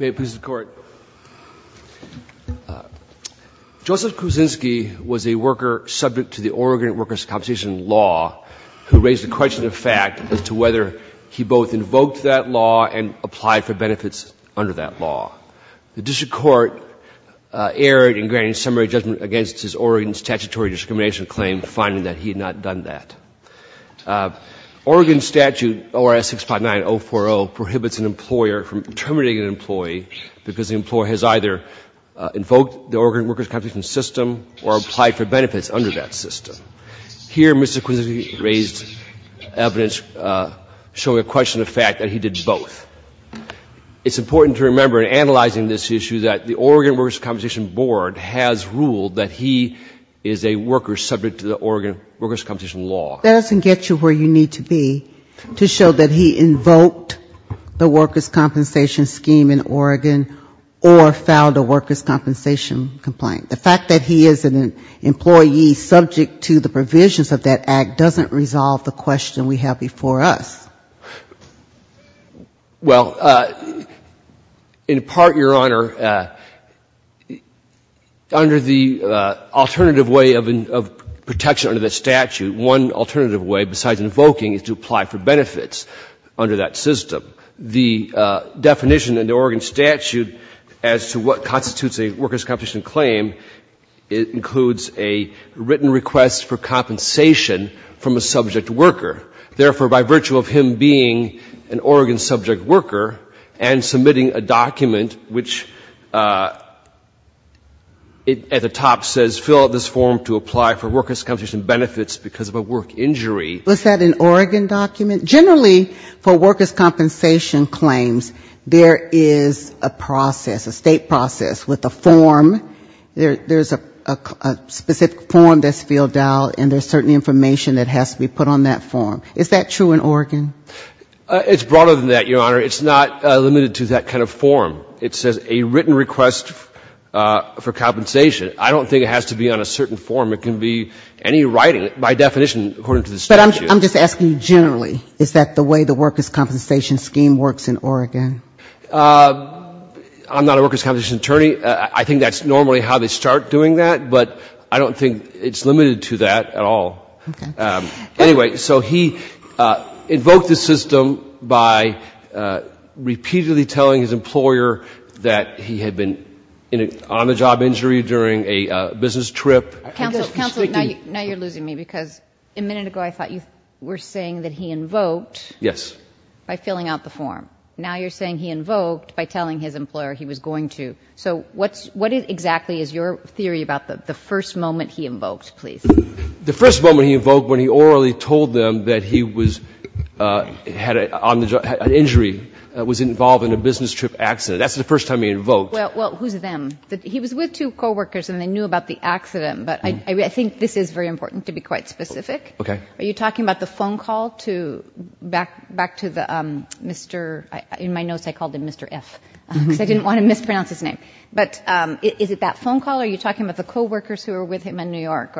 May it please the Court. Joseph Kwiecinski was a worker subject to the Oregon Workers' Compensation Law, who raised a question of fact as to whether he both invoked that law and applied for benefits under that law. The district court erred in granting summary judgment against his Oregon statutory discrimination claim, finding that he had not done that. Oregon statute ORS 659040 prohibits an employer from terminating an employee because the employer has either invoked the Oregon Workers' Compensation System or applied for benefits under that system. Here Mr. Kwiecinski raised evidence showing a question of fact that he did both. It's important to remember in analyzing this issue that the Oregon Workers' Compensation Board has ruled that he is a worker subject to the Oregon Workers' Compensation Law. That doesn't get you where you need to be to show that he invoked the workers' compensation scheme in Oregon or filed a workers' compensation complaint. The fact that he is an employee subject to the provisions of that act doesn't resolve the question we have before us. Well, in part, Your Honor, the alternative way of protection under the statute, one alternative way besides invoking is to apply for benefits under that system. The definition in the Oregon statute as to what constitutes a workers' compensation claim includes a written request for compensation from a subject worker. Therefore, by virtue of him being an Oregon subject worker and submitting a document which at the top says fill out this form to apply for workers' compensation benefits because of a work injury. Was that an Oregon document? Generally, for workers' compensation claims, there is a process, a state process with a form. There's a specific form that's filled out and there's certain information that has to be put on that form. Is that true in Oregon? It's broader than that, Your Honor. It's not limited to that kind of form. It says a written request for compensation. I don't think it has to be on a certain form. It can be any writing, by definition, according to the statute. But I'm just asking generally, is that the way the workers' compensation scheme works in Oregon? I'm not a workers' compensation attorney. I think that's normally how they start doing that, but I don't think it's limited to that at all. Anyway, so he invoked the system by repeatedly telling his employer that he had been on a job injury during a business trip. Counsel, now you're losing me, because a minute ago I thought you were saying that he invoked by filling out the form. Now you're saying he invoked by telling his employer he was going to. So what exactly is your theory about the first moment he invoked, please? The first moment he invoked when he orally told them that he had an injury, was involved in a business trip accident. That's the first time he invoked. Well, who's them? He was with two coworkers and they knew about the accident. But I think this is very important to be quite specific. Are you talking about the phone call back to the Mr. In my notes I called him Mr. F, because I didn't want to mispronounce his name. But is it that phone call or are you talking about the coworkers who were with him in New York?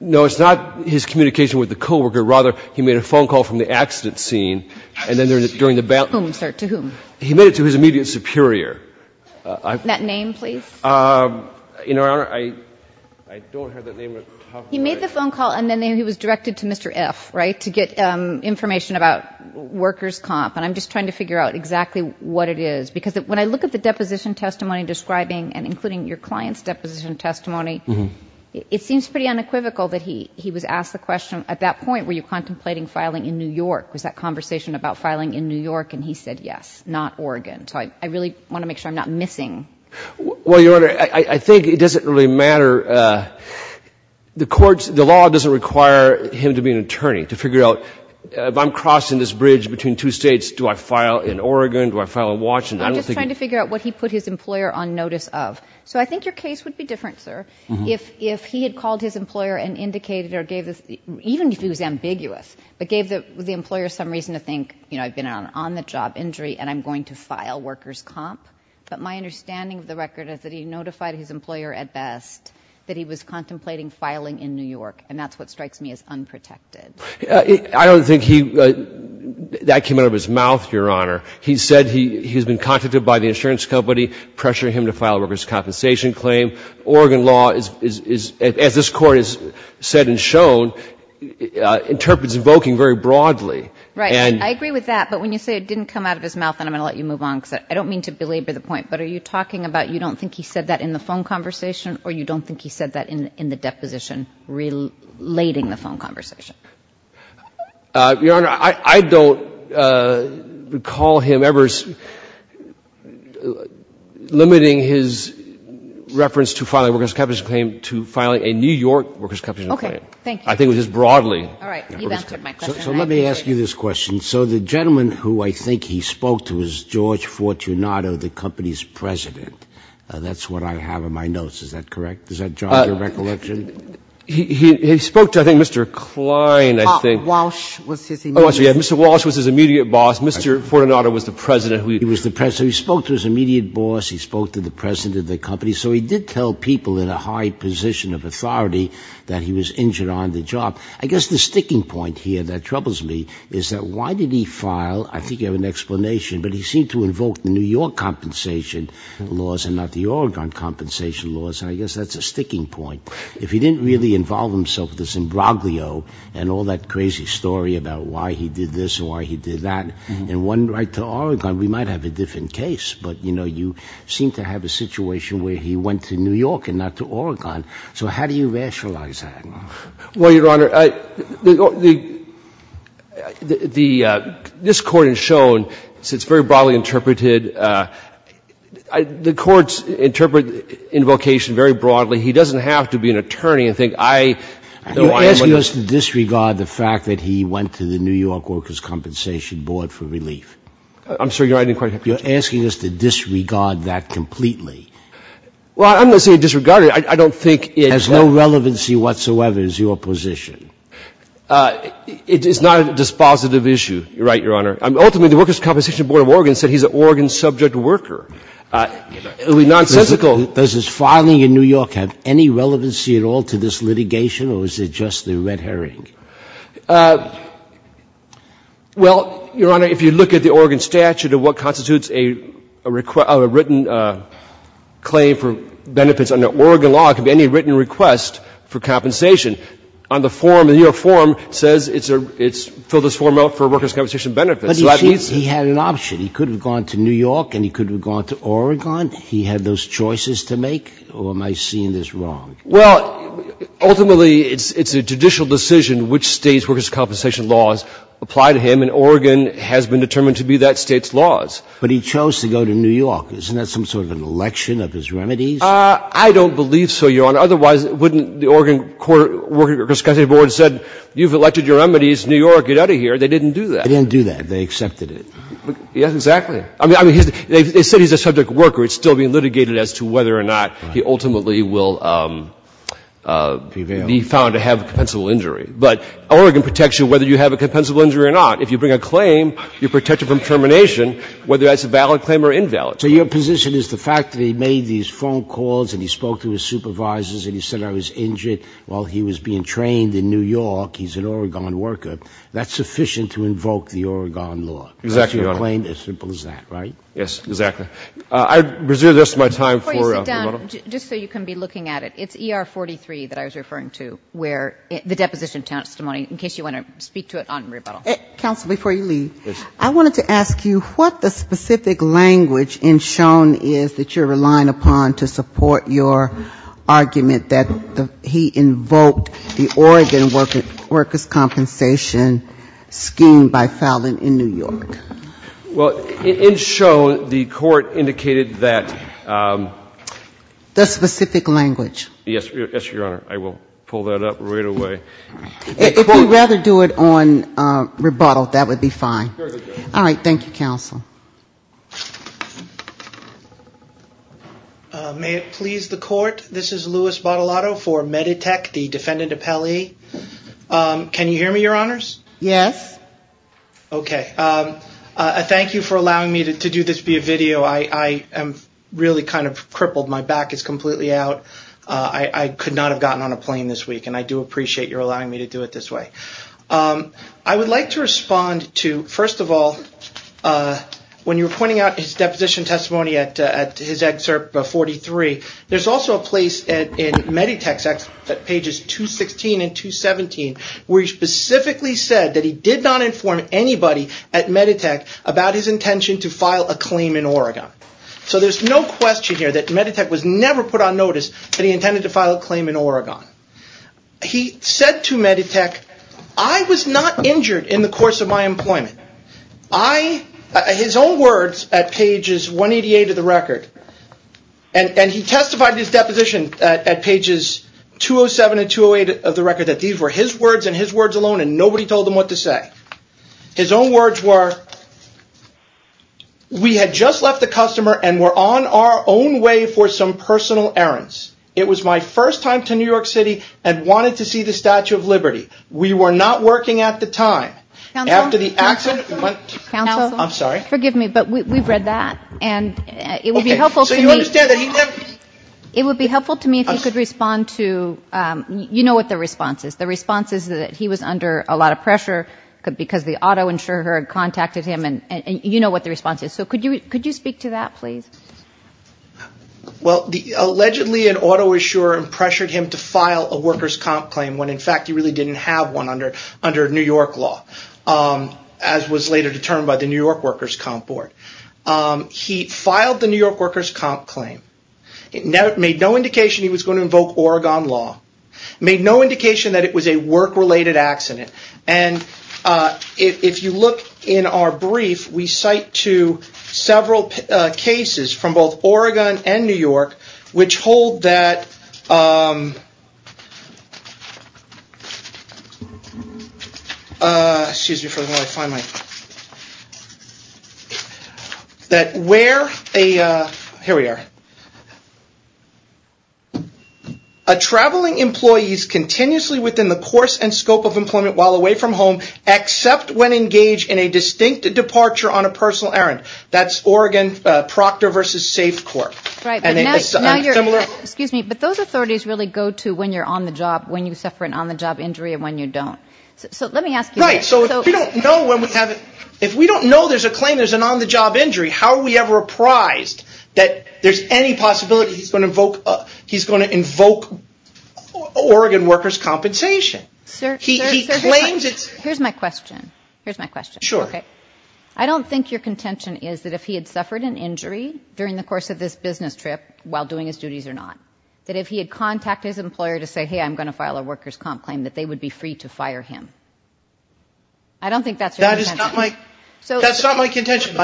No, it's not his communication with the coworker. Rather, he made a phone call from the accident scene and then during the battle. Whom, sir, to whom? He made it to his immediate superior. That name, please. You know, I don't have that name. He made the phone call and then he was directed to Mr. F right to get information about workers comp. And I'm just trying to figure out exactly what it is, because when I look at the deposition testimony describing and including your clients deposition testimony, it seems pretty unequivocal that he he was asked the question at that point. Were you contemplating filing in New York? Was that conversation about filing in New York? And he said, yes, not Oregon. So I really want to make sure I'm not missing. Well, your Honor, I think it doesn't really matter. The courts, the law doesn't require him to be an attorney to figure out if I'm crossing this bridge between two states, do I file in Oregon, do I file in Washington? I'm just trying to figure out what he put his employer on notice of. So I think your case would be different, sir, if he had called his employer and indicated or gave even if he was ambiguous, but gave the employer some reason to think, you know, I've been on the job injury and I'm going to file workers comp. But my understanding of the record is that he notified his employer at best that he was contemplating filing in New York, and that's what strikes me as unprotected. I don't think he that came out of his mouth, your Honor. He said he's been contacted by the insurance company, pressuring him to file workers compensation claim. Oregon law is, as this Court has said and shown, interprets invoking very broadly. Right, I agree with that, but when you say it didn't come out of his mouth, and I'm going to let you move on, because I don't mean to belabor the point, but are you talking about you don't think he said that in the phone conversation or you don't think he said that in the deposition relating the phone conversation? Your Honor, I don't recall him ever limiting his reference to filing workers compensation claim to filing a New York workers compensation claim. I think it was just broadly. So let me ask you this question. So the gentleman who I think he spoke to was George Fortunato, the company's president. That's what I have in my notes. Is that correct? Does that jog your recollection? He spoke to, I think, Mr. Klein, I think. Mr. Walsh was his immediate boss. Mr. Fortunato was the president. So he spoke to his immediate boss, he spoke to the president of the company. So he did tell people in a high position of authority that he was injured on the job. I guess the sticking point here that troubles me is that why did he file, I think you have an explanation, but he seemed to invoke the New York compensation laws and not the Oregon compensation laws, and I guess that's a sticking point. If he didn't really involve himself with this imbroglio and all that crazy story about why he did this or why he did that, and one right to Oregon, we might have a different case. But, you know, you seem to have a situation where he went to New York and not to Oregon. So how do you rationalize that? Well, Your Honor, this Court has shown, it's very broadly interpreted, the courts interpret invocation very broadly. He doesn't have to be an attorney and think, I know I'm going to ---- You're asking us to disregard the fact that he went to the New York Workers' Compensation Board for relief. I'm sorry, Your Honor, I didn't quite catch that. You're asking us to disregard that completely. Well, I'm not saying disregard it. I don't think it ---- It has no relevancy whatsoever as your position. It's not a dispositive issue. You're right, Your Honor. Ultimately, the Workers' Compensation Board of Oregon said he's an Oregon subject worker. It would be nonsensical. Does his filing in New York have any relevancy at all to this litigation, or is it just the red herring? Well, Your Honor, if you look at the Oregon statute of what constitutes a written claim for benefits under Oregon law, it could be any written request for compensation on the form. The New York form says it's filled this form out for workers' compensation benefits. But he had an option. He could have gone to New York and he could have gone to Oregon. He had those choices to make. Or am I seeing this wrong? Well, ultimately, it's a judicial decision which State's workers' compensation laws apply to him, and Oregon has been determined to be that State's laws. But he chose to go to New York. Isn't that some sort of an election of his remedies? I don't believe so, Your Honor. But otherwise, wouldn't the Oregon workers' compensation board have said, you've elected your remedies, New York, get out of here? They didn't do that. They didn't do that. They accepted it. Yes, exactly. I mean, they said he's a subject worker. It's still being litigated as to whether or not he ultimately will be found to have a compensable injury. But Oregon protects you whether you have a compensable injury or not. If you bring a claim, you're protected from termination, whether that's a valid claim or invalid. So your position is the fact that he made these phone calls and he spoke to his supervisors and he said, I was injured while he was being trained in New York. He's an Oregon worker. That's sufficient to invoke the Oregon law. Exactly, Your Honor. That's your claim, as simple as that, right? Yes, exactly. I reserve the rest of my time for rebuttal. Before you sit down, just so you can be looking at it, it's ER-43 that I was referring to, where the deposition testimony, in case you want to speak to it on rebuttal. Counsel, before you leave, I wanted to ask you what the specific language in Shone is that you're relying upon to support your argument that he invoked the Oregon workers' compensation scheme by Fallon in New York? Well, in Shone, the court indicated that the specific language. Yes, Your Honor. I will pull that up right away. If you'd rather do it on rebuttal, that would be fine. All right. Thank you, counsel. May it please the court? This is Louis Botellotto for Meditech, the defendant appellee. Can you hear me, Your Honors? Yes. Okay. Thank you for allowing me to do this via video. I am really kind of crippled. My back is completely out. I could not have gotten on a plane this week, and I do appreciate your allowing me to do it this way. I would like to respond to, first of all, when you were pointing out his deposition testimony at his excerpt 43, there's also a place in Meditech's pages 216 and 217 where he specifically said that he did not inform anybody at Meditech about his intention to file a claim in Oregon. So there's no question here that Meditech was never put on notice that he intended to file a claim in Oregon. He said to Meditech, I was not injured in the course of my employment. His own words at pages 188 of the record, and he testified in his deposition at pages 207 and 208 of the record that these were his words and his words alone, and nobody told him what to say. His own words were, we had just left the customer and were on our own way for some personal errands. It was my first time to New York City and wanted to see the Statue of Liberty. We were not working at the time. After the accident. Counsel, I'm sorry. Forgive me, but we've read that, and it would be helpful to me. So you understand that he never. It would be helpful to me if you could respond to, you know what the response is. The response is that he was under a lot of pressure because the auto insurer had contacted him, and you know what the response is. So could you speak to that, please? Well, allegedly an auto insurer pressured him to file a workers' comp claim when in fact he really didn't have one under New York law, as was later determined by the New York workers' comp board. He filed the New York workers' comp claim. It made no indication he was going to invoke Oregon law. It made no indication that it was a work-related accident, and if you look in our brief, we cite to several cases from both Oregon and New York, which hold that a traveling employee is continuously within the course and scope of employment while away from home, except when engaged in a distinct departure on a personal errand. That's Oregon Proctor v. SafeCorp. But those authorities really go to when you're on the job, when you suffer an on-the-job injury, and when you don't. So let me ask you this. If we don't know there's a claim, there's an on-the-job injury, how are we ever apprised that there's any possibility he's going to invoke Oregon workers' compensation? Here's my question. I don't think your contention is that if he had suffered an injury during the course of this business trip while doing his duties or not, that if he had contacted his employer to say, hey, I'm going to file a workers' comp claim, that they would be free to fire him. I don't think that's your contention. That's not my contention.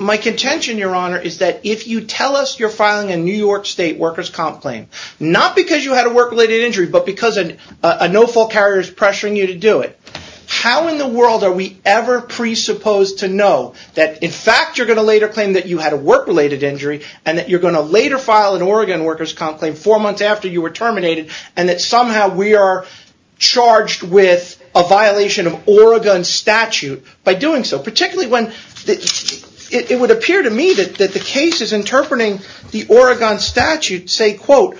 My contention, Your Honor, is that if you tell us you're filing a New York State workers' comp claim, not because you had a work-related injury, but because a no-fault carrier is pressuring you to do it, how in the world are we ever presupposed to know that, in fact, you're going to later claim that you had a work-related injury, and that you're going to later file an Oregon workers' comp claim four months after you were terminated, and that somehow we are charged with a violation of Oregon's statute by doing so? Particularly when it would appear to me that the case is interpreting the Oregon statute to say, quote,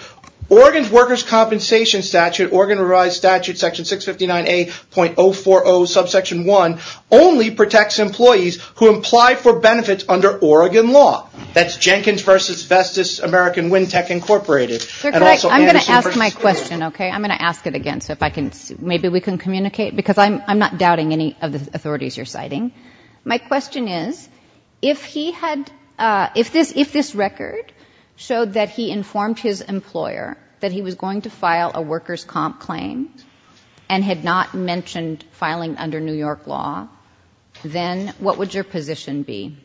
Oregon's workers' compensation statute, Oregon revised statute section 659A.040 subsection 1, only protects employees who apply for benefits under Oregon law. That's Jenkins v. Vestas American Wind Tech, Incorporated. And also Anderson v. Smith. I'm going to ask my question, okay? I'm going to ask it again, so maybe we can communicate, because I'm not doubting any of the authorities you're citing. My question is, if he had, if this record showed that he informed his employer that he was going to file a workers' comp claim, and had not mentioned filing under New York law, then what would your position be?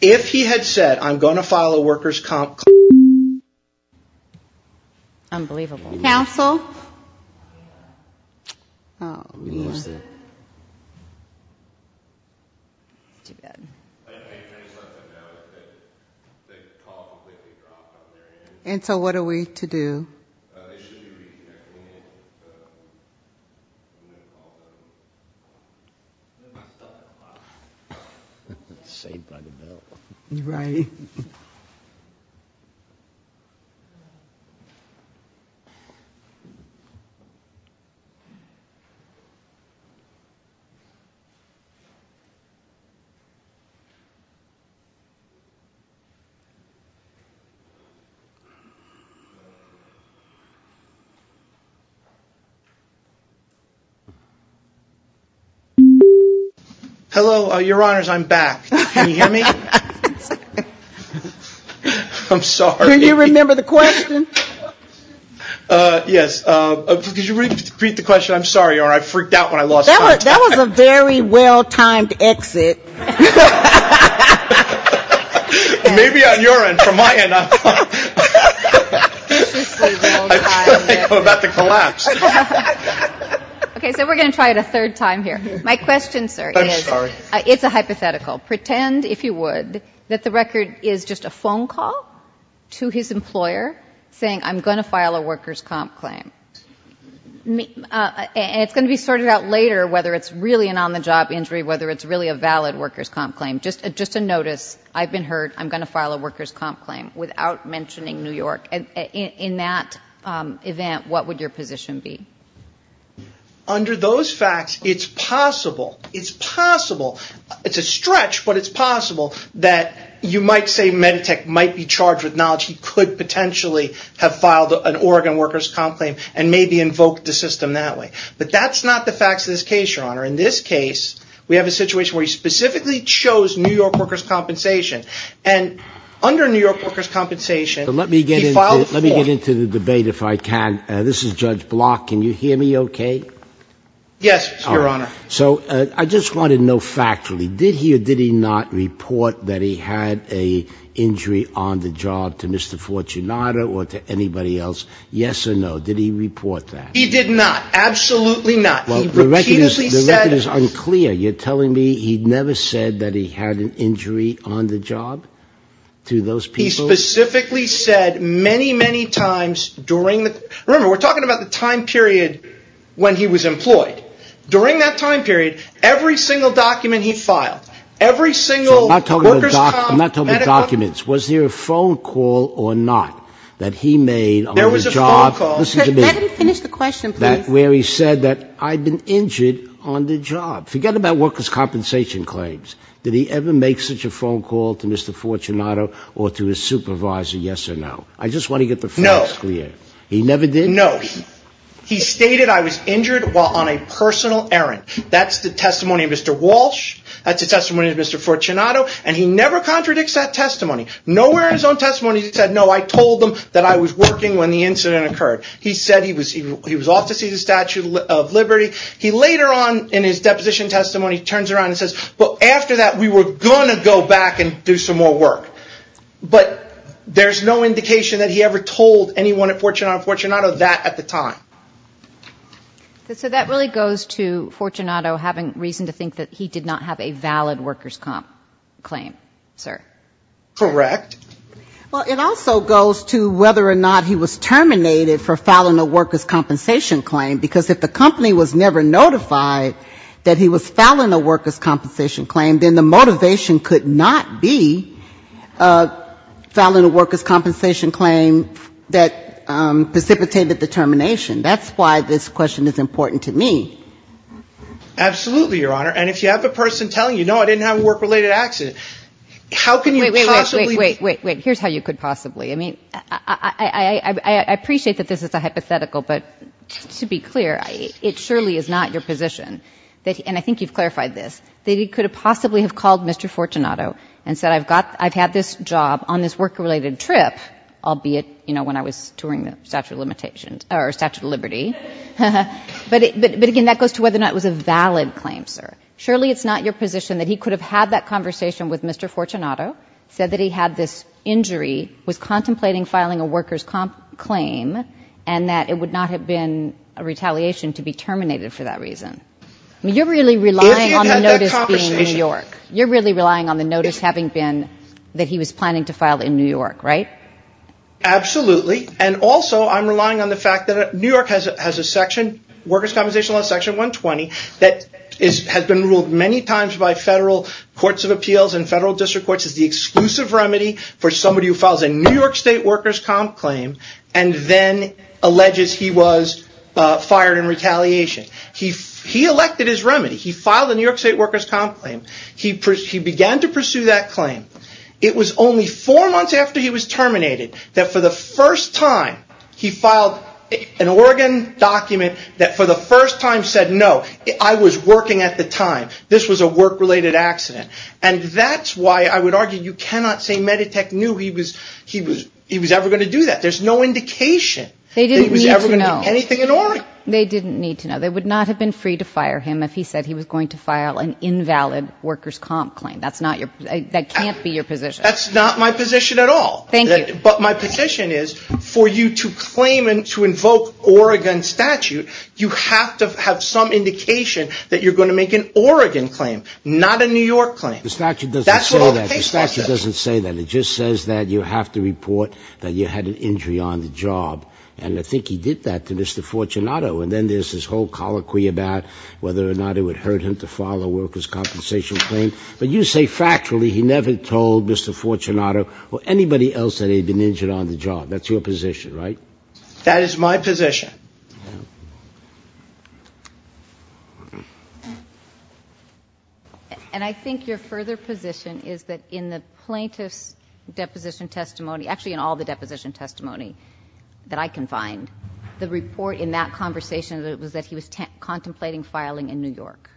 If he had said, I'm going to file a workers' comp claim. Unbelievable. Counsel? Oh, yeah. Too bad. And so what are we to do? Saved by the bell. Right. Thank you. Hello, your honors, I'm back. Can you hear me? I'm sorry. Do you remember the question? Yes. Could you repeat the question? I'm sorry, your honor. I freaked out when I lost time. That was a very well-timed exit. Maybe on your end. From my end, I'm fine. I'm about to collapse. Okay. So we're going to try it a third time here. My question, sir, is, it's a hypothetical. Pretend, if you would, that the record is just a phone call to his employer saying, I'm going to file a workers' comp claim. And it's going to be sorted out later whether it's really an on-the-job injury, whether it's really a valid workers' comp claim. Just a notice, I've been hurt, I'm going to file a workers' comp claim without mentioning New York. In that event, what would your position be? Under those facts, it's possible. It's possible. It's a stretch, but it's possible that you might say Meditech might be charged with knowledge he could potentially have filed an Oregon workers' comp claim and maybe invoked the system that way. But that's not the facts of this case, your honor. In this case, we have a situation where he specifically chose New York workers' compensation. And under New York workers' compensation, he filed it for. Let me get into the debate if I can. This is Judge Block. Can you hear me okay? Yes, your honor. So I just wanted to know factually, did he or did he not report that he had an injury on the job to Mr. Fortunato or to anybody else? Yes or no? Did he report that? He did not. Absolutely not. He repeatedly said it. The record is unclear. You're telling me he never said that he had an injury on the job to those people? He specifically said many, many times during the – remember, we're talking about the time period when he was employed. During that time period, every single document he filed, every single workers' comp – I'm not talking about documents. Was there a phone call or not that he made on the job? There was a phone call. Let him finish the question, please. Where he said that I'd been injured on the job. Forget about workers' compensation claims. Did he ever make such a phone call to Mr. Fortunato or to his supervisor, yes or no? I just want to get the facts clear. No. He never did? No. He stated I was injured while on a personal errand. That's the testimony of Mr. Walsh. That's the testimony of Mr. Fortunato. And he never contradicts that testimony. Nowhere in his own testimony did he say, no, I told them that I was working when the incident occurred. He said he was off to see the Statue of Liberty. He later on in his deposition testimony turns around and says, well, after that, we were going to go back and do some more work. But there's no indication that he ever told anyone at Fortunato that at the time. So that really goes to Fortunato having reason to think that he did not have a valid workers' compensation claim, sir? Correct. Well, it also goes to whether or not he was terminated for filing a workers' compensation claim, because if the company was never notified that he was filing a workers' compensation claim, then the motivation could not be filing a workers' compensation claim that precipitated the termination. That's why this question is important to me. Absolutely, Your Honor. And if you have a person telling you, no, I didn't have a work-related accident, how can you possibly? Wait, wait, wait. Here's how you could possibly. I mean, I appreciate that this is a hypothetical. But to be clear, it surely is not your position, and I think you've clarified this, that he could have possibly have called Mr. Fortunato and said, I've got this job on this work-related trip, albeit, you know, when I was touring the Statue of Liberty. But, again, that goes to whether or not it was a valid claim, sir. Surely it's not your position that he could have had that conversation with Mr. Fortunato, said that he had this injury, was contemplating filing a workers' claim, and that it would not have been a retaliation to be terminated for that reason. I mean, you're really relying on the notice being New York. That he was planning to file in New York, right? Absolutely. And also, I'm relying on the fact that New York has a section, workers' compensation law section 120, that has been ruled many times by federal courts of appeals and federal district courts as the exclusive remedy for somebody who files a New York State workers' comp claim and then alleges he was fired in retaliation. He elected his remedy. He filed a New York State workers' comp claim. He began to pursue that claim. It was only four months after he was terminated that, for the first time, he filed an Oregon document that, for the first time, said, no, I was working at the time. This was a work-related accident. And that's why I would argue you cannot say Meditech knew he was ever going to do that. There's no indication that he was ever going to do anything in Oregon. They didn't need to know. They would not have been free to fire him if he said he was going to file an invalid workers' comp claim. That can't be your position. That's not my position at all. Thank you. But my position is, for you to claim and to invoke Oregon statute, you have to have some indication that you're going to make an Oregon claim, not a New York claim. The statute doesn't say that. The statute doesn't say that. It just says that you have to report that you had an injury on the job. And I think he did that to Mr. Fortunato. And then there's this whole colloquy about whether or not it would hurt him to file a compensation claim. But you say, factually, he never told Mr. Fortunato or anybody else that he had been injured on the job. That's your position, right? That is my position. And I think your further position is that in the plaintiff's deposition testimony, actually in all the deposition testimony that I can find, the report in that conversation was that he was contemplating filing in New York.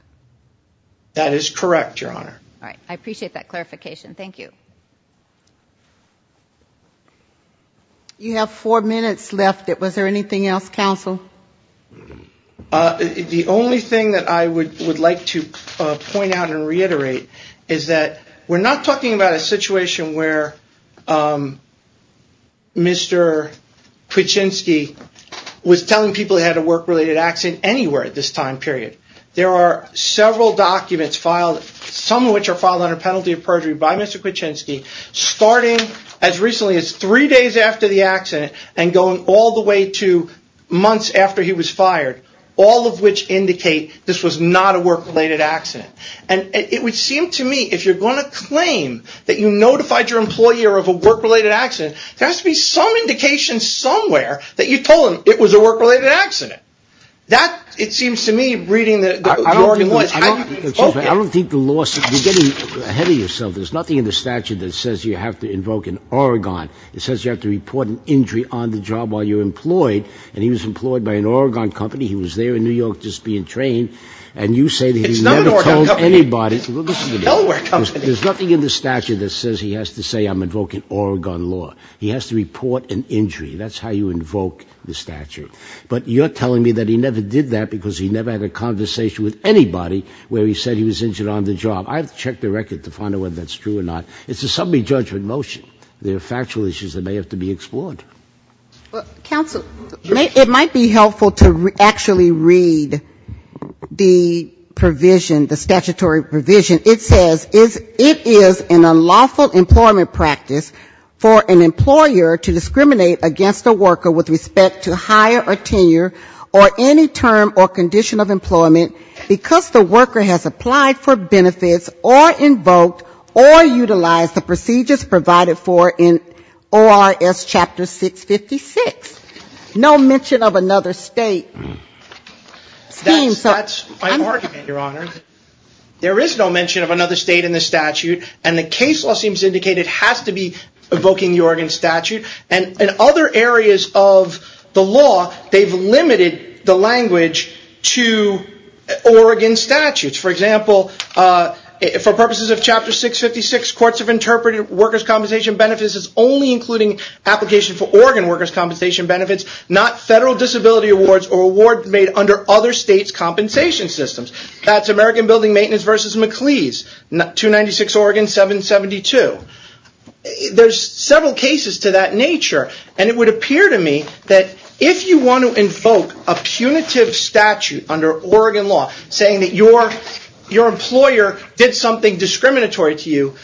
That is correct, Your Honor. All right. I appreciate that clarification. Thank you. You have four minutes left. Was there anything else, counsel? The only thing that I would like to point out and reiterate is that we're not talking about a situation where Mr. Kuczynski was telling people he had a work-related accident anywhere at this time period. There are several documents filed, some of which are filed under penalty of perjury by Mr. Kuczynski, starting as recently as three days after the accident and going all the way to months after he was fired, all of which indicate this was not a work-related accident. And it would seem to me, if you're going to claim that you notified your employee of a work-related accident, there has to be some indication somewhere that you told him it was a work-related accident. That, it seems to me, reading the Oregon law... Excuse me. I don't think the law... You're getting ahead of yourself. There's nothing in the statute that says you have to invoke an Oregon. It says you have to report an injury on the job while you're employed, and he was employed by an Oregon company. He was there in New York just being trained, and you say that he never told anybody. It's not an Oregon company. It's a Delaware company. There's nothing in the statute that says he has to say, I'm invoking Oregon law. He has to report an injury. That's how you invoke the statute. But you're telling me that he never did that because he never had a conversation with anybody where he said he was injured on the job. I have to check the record to find out whether that's true or not. It's a summary judgment motion. There are factual issues that may have to be explored. Well, counsel, it might be helpful to actually read the provision, the statutory provision. It says, it is an unlawful employment practice for an employer to discriminate against a worker with respect to hire or tenure or any term or condition of employment because the worker has applied for benefits or invoked or utilized the procedures provided for in ORS Chapter 656. No mention of another state. That's my argument, Your Honor. There is no mention of another state in the statute, and the case law seems to have to be invoking the Oregon statute. In other areas of the law, they've limited the language to Oregon statutes. For example, for purposes of Chapter 656, courts have interpreted workers' compensation benefits as only including application for Oregon workers' compensation benefits, not federal disability awards or awards made under other states' compensation systems. That's American Building Maintenance v. MacLeese, 296 Oregon 772. There's several cases to that nature, and it would appear to me that if you want to invoke a punitive statute under Oregon law saying that your employer did something discriminatory to you,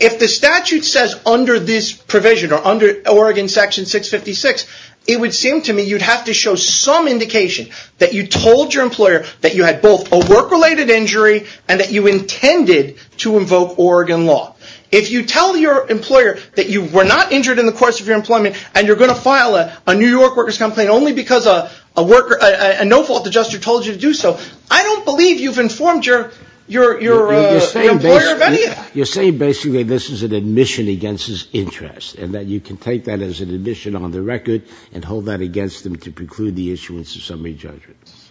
if the statute says under this provision or under Oregon Section 656, it would seem to me you'd have to show some indication that you told your employer that you had both a work-related injury and that you intended to invoke Oregon law. If you tell your employer that you were not injured in the course of your employment and you're going to file a New York workers' complaint only because a no-fault adjuster told you to do so, I don't believe you've informed your employer of any of that. You're saying basically this is an admission against his interest and that you can take that as an admission on the record and hold that against him to preclude the issuance of summary judgments.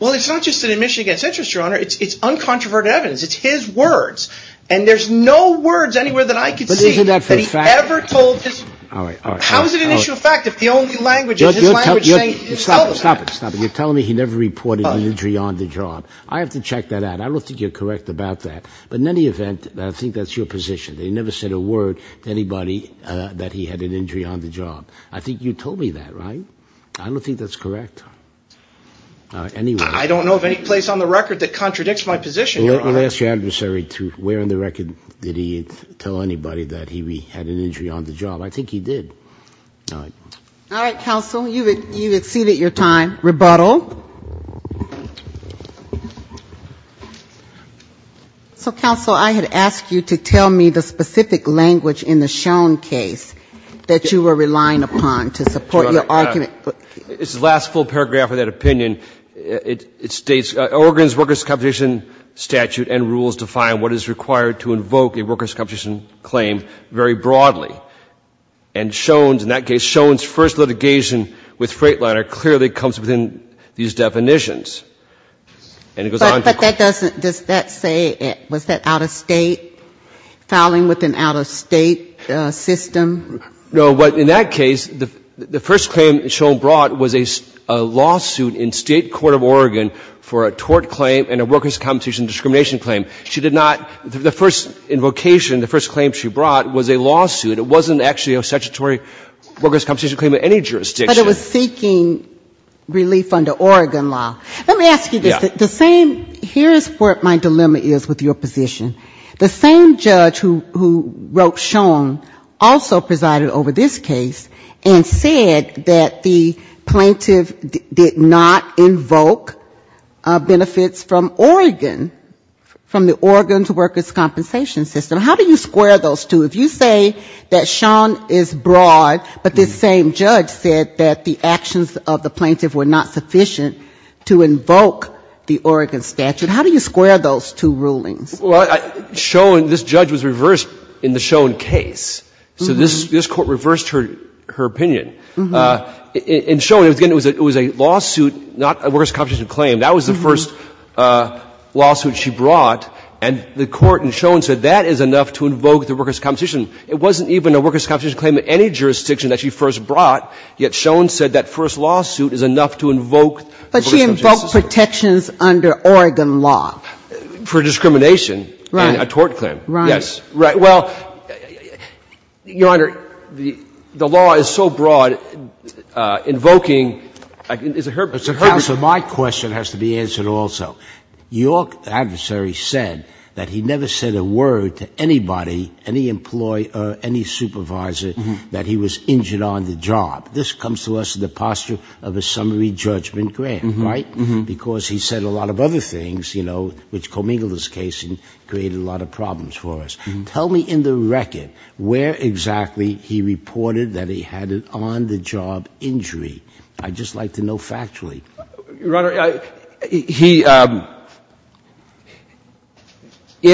Well, it's not just an admission against interest, Your Honor. It's uncontroverted evidence. It's his words. And there's no words anywhere that I could see that he ever told this. How is it an issue of fact if the only language in his language is saying you told us that? Stop it. You're telling me he never reported an injury on the job. I have to check that out. I don't think you're correct about that. But in any event, I think that's your position, that he never said a word to anybody that he had an injury on the job. I think you told me that, right? I don't think that's correct. I don't know of any place on the record that contradicts my position, Your Honor. Well, ask your adversary where on the record did he tell anybody that he had an injury on the job. I think he did. All right. All right, counsel. You've exceeded your time. Rebuttal. So, counsel, I had asked you to tell me the specific language in the shown case that you were relying upon to support your argument. It's the last full paragraph of that opinion. It states, Oregon's workers' competition statute and rules define what is required to invoke a workers' competition claim very broadly. And shown, in that case, shown's first litigation with Freightliner clearly comes within these definitions. But that doesn't, does that say, was that out-of-state, filing with an out-of-state system? No, but in that case, the first claim shown brought was a lawsuit in state court of Oregon for a tort claim and a workers' competition discrimination claim. She did not, the first invocation, the first claim she brought was a lawsuit. It wasn't actually a statutory workers' competition claim in any jurisdiction. But it was seeking relief under Oregon law. Let me ask you this. Yeah. The same, here is where my dilemma is with your position. The same judge who wrote shown also presided over this case and said that the plaintiff did not invoke benefits from Oregon, from the Oregon's workers' compensation system. How do you square those two? If you say that shown is broad, but this same judge said that the actions of the plaintiff were not sufficient to invoke the Oregon statute, how do you square those two rulings? Well, shown, this judge was reversed in the shown case. So this Court reversed her opinion. In shown, it was a lawsuit, not a workers' competition claim. That was the first lawsuit she brought, and the Court in shown said that is enough to invoke the workers' competition. It wasn't even a workers' competition claim in any jurisdiction that she first competition system. But she invoked protections under Oregon law. For discrimination. Right. And a tort claim. Right. Yes. Right. Well, Your Honor, the law is so broad, invoking, is it her purpose? Counsel, my question has to be answered also. Your adversary said that he never said a word to anybody, any employee or any supervisor, that he was injured on the job. This comes to us in the posture of a summary judgment grant. Right? Because he said a lot of other things, you know, which commingled his case and created a lot of problems for us. Tell me in the record where exactly he reported that he had an on-the-job injury. I'd just like to know factually. Your Honor, he,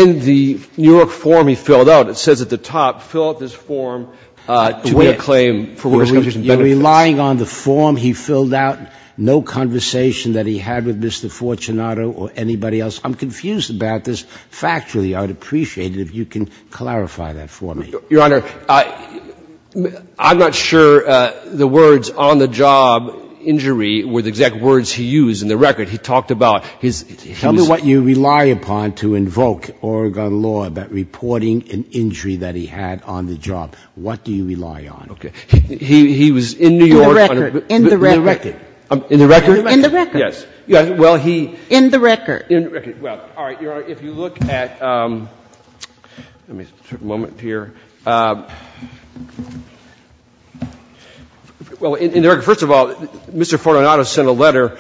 in the Newark form he filled out, it says at the top, fill out this form to win a claim for workers' competition. But relying on the form he filled out, no conversation that he had with Mr. Fortunato or anybody else. I'm confused about this factually. I'd appreciate it if you can clarify that for me. Your Honor, I'm not sure the words on-the-job injury were the exact words he used in the record. He talked about his ‑‑ Tell me what you rely upon to invoke Oregon law about reporting an injury that he had on the job. What do you rely on? Okay. He was in New York. In the record. In the record. In the record? In the record. Yes. Well, he ‑‑ In the record. In the record. Well, all right. Your Honor, if you look at ‑‑ let me take a moment here. Well, in the record, first of all, Mr. Fortunato sent a letter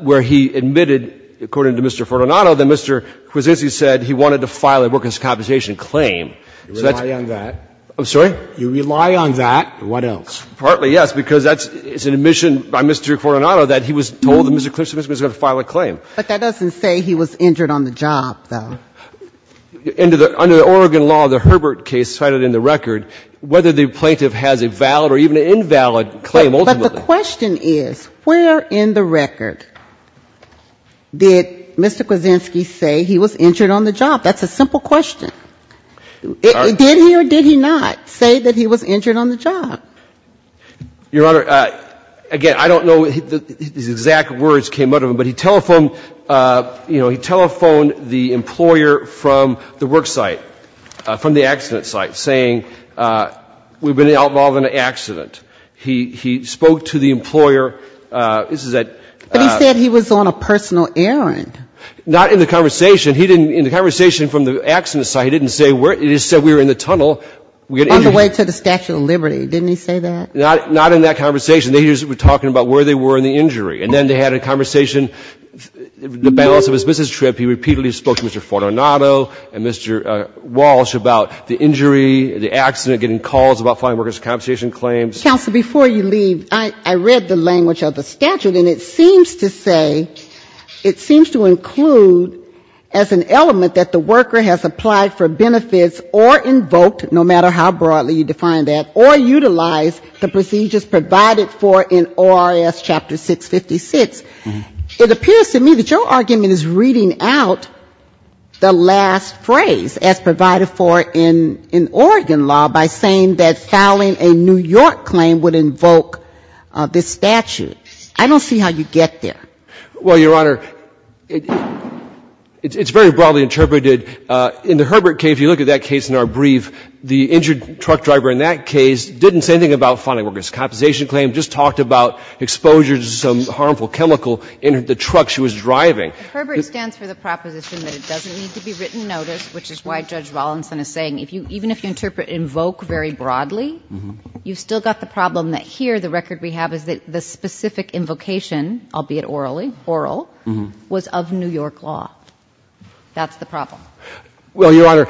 where he admitted, according to Mr. Fortunato, that Mr. Kwasinski said he wanted to file a workers' competition claim. You rely on that. I'm sorry? You rely on that. What else? Partly, yes, because that's ‑‑ it's an admission by Mr. Fortunato that he was told that Mr. Kwasinski was going to file a claim. But that doesn't say he was injured on the job, though. Under the Oregon law, the Herbert case cited in the record, whether the plaintiff has a valid or even an invalid claim ultimately. But the question is, where in the record did Mr. Kwasinski say he was injured on the job? That's a simple question. Did he or did he not say that he was injured on the job? Your Honor, again, I don't know these exact words came out of him, but he telephoned the employer from the work site, from the accident site, saying, we've been involved in an accident. He spoke to the employer. But he said he was on a personal errand. Not in the conversation. He didn't, in the conversation from the accident site, he didn't say where, he just said we were in the tunnel. On the way to the Statue of Liberty. Didn't he say that? Not in that conversation. He was talking about where they were in the injury. And then they had a conversation, the balance of his business trip. He repeatedly spoke to Mr. Fortunato and Mr. Walsh about the injury, the accident, getting calls about filing workers' compensation claims. Counsel, before you leave, I read the language of the statute, and it seems to say, it seems to include as an element that the worker has applied for benefits or invoked, no matter how broadly you define that, or utilized the procedures provided for in ORS Chapter 656. It appears to me that your argument is reading out the last phrase, as provided for in Oregon law, by saying that filing a New York claim would invoke this statute. I don't see how you get there. Well, Your Honor, it's very broadly interpreted. In the Herbert case, if you look at that case in our brief, the injured truck driver in that case didn't say anything about filing workers' compensation claims, just talked about exposure to some harmful chemical in the truck she was driving. Herbert stands for the proposition that it doesn't need to be written notice, which is why Judge Rawlinson is saying, even if you interpret invoke very broadly, you've still got the problem that here the record we have is that the specific invocation, albeit orally, oral, was of New York law. That's the problem. Well, Your Honor,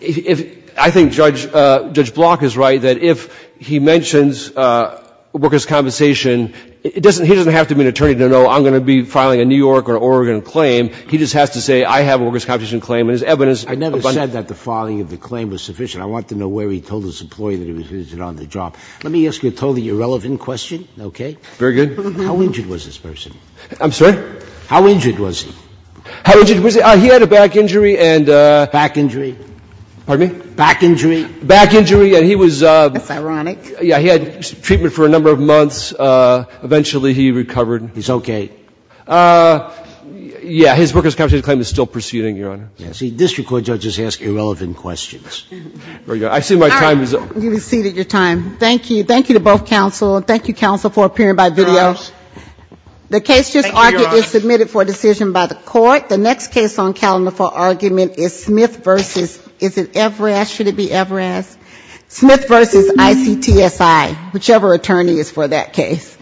I think Judge Block is right, that if he mentions workers' compensation, he doesn't have to be an attorney to know I'm going to be filing a New York or Oregon claim. He just has to say I have a workers' compensation claim and his evidence. I never said that the filing of the claim was sufficient. I want to know where he told his employee that he was injured on the job. Let me ask you a totally irrelevant question, okay? Very good. How injured was this person? I'm sorry? How injured was he? How injured was he? He had a back injury and a... Back injury. Pardon me? Back injury. Back injury. And he was a... That's ironic. Yeah. He had treatment for a number of months. Eventually he recovered. He's okay. Yeah. His workers' compensation claim is still proceeding, Your Honor. See, district court judges ask irrelevant questions. Very good. I see my time is up. You've exceeded your time. Thank you. Thank you to both counsel. Thank you, counsel, for appearing by video. Thank you, Your Honor. The case just argued is submitted for decision by the court. The next case on calendar for argument is Smith v. Is it Everest? Should it be Everest? Smith v. ICTSI, whichever attorney is for that case.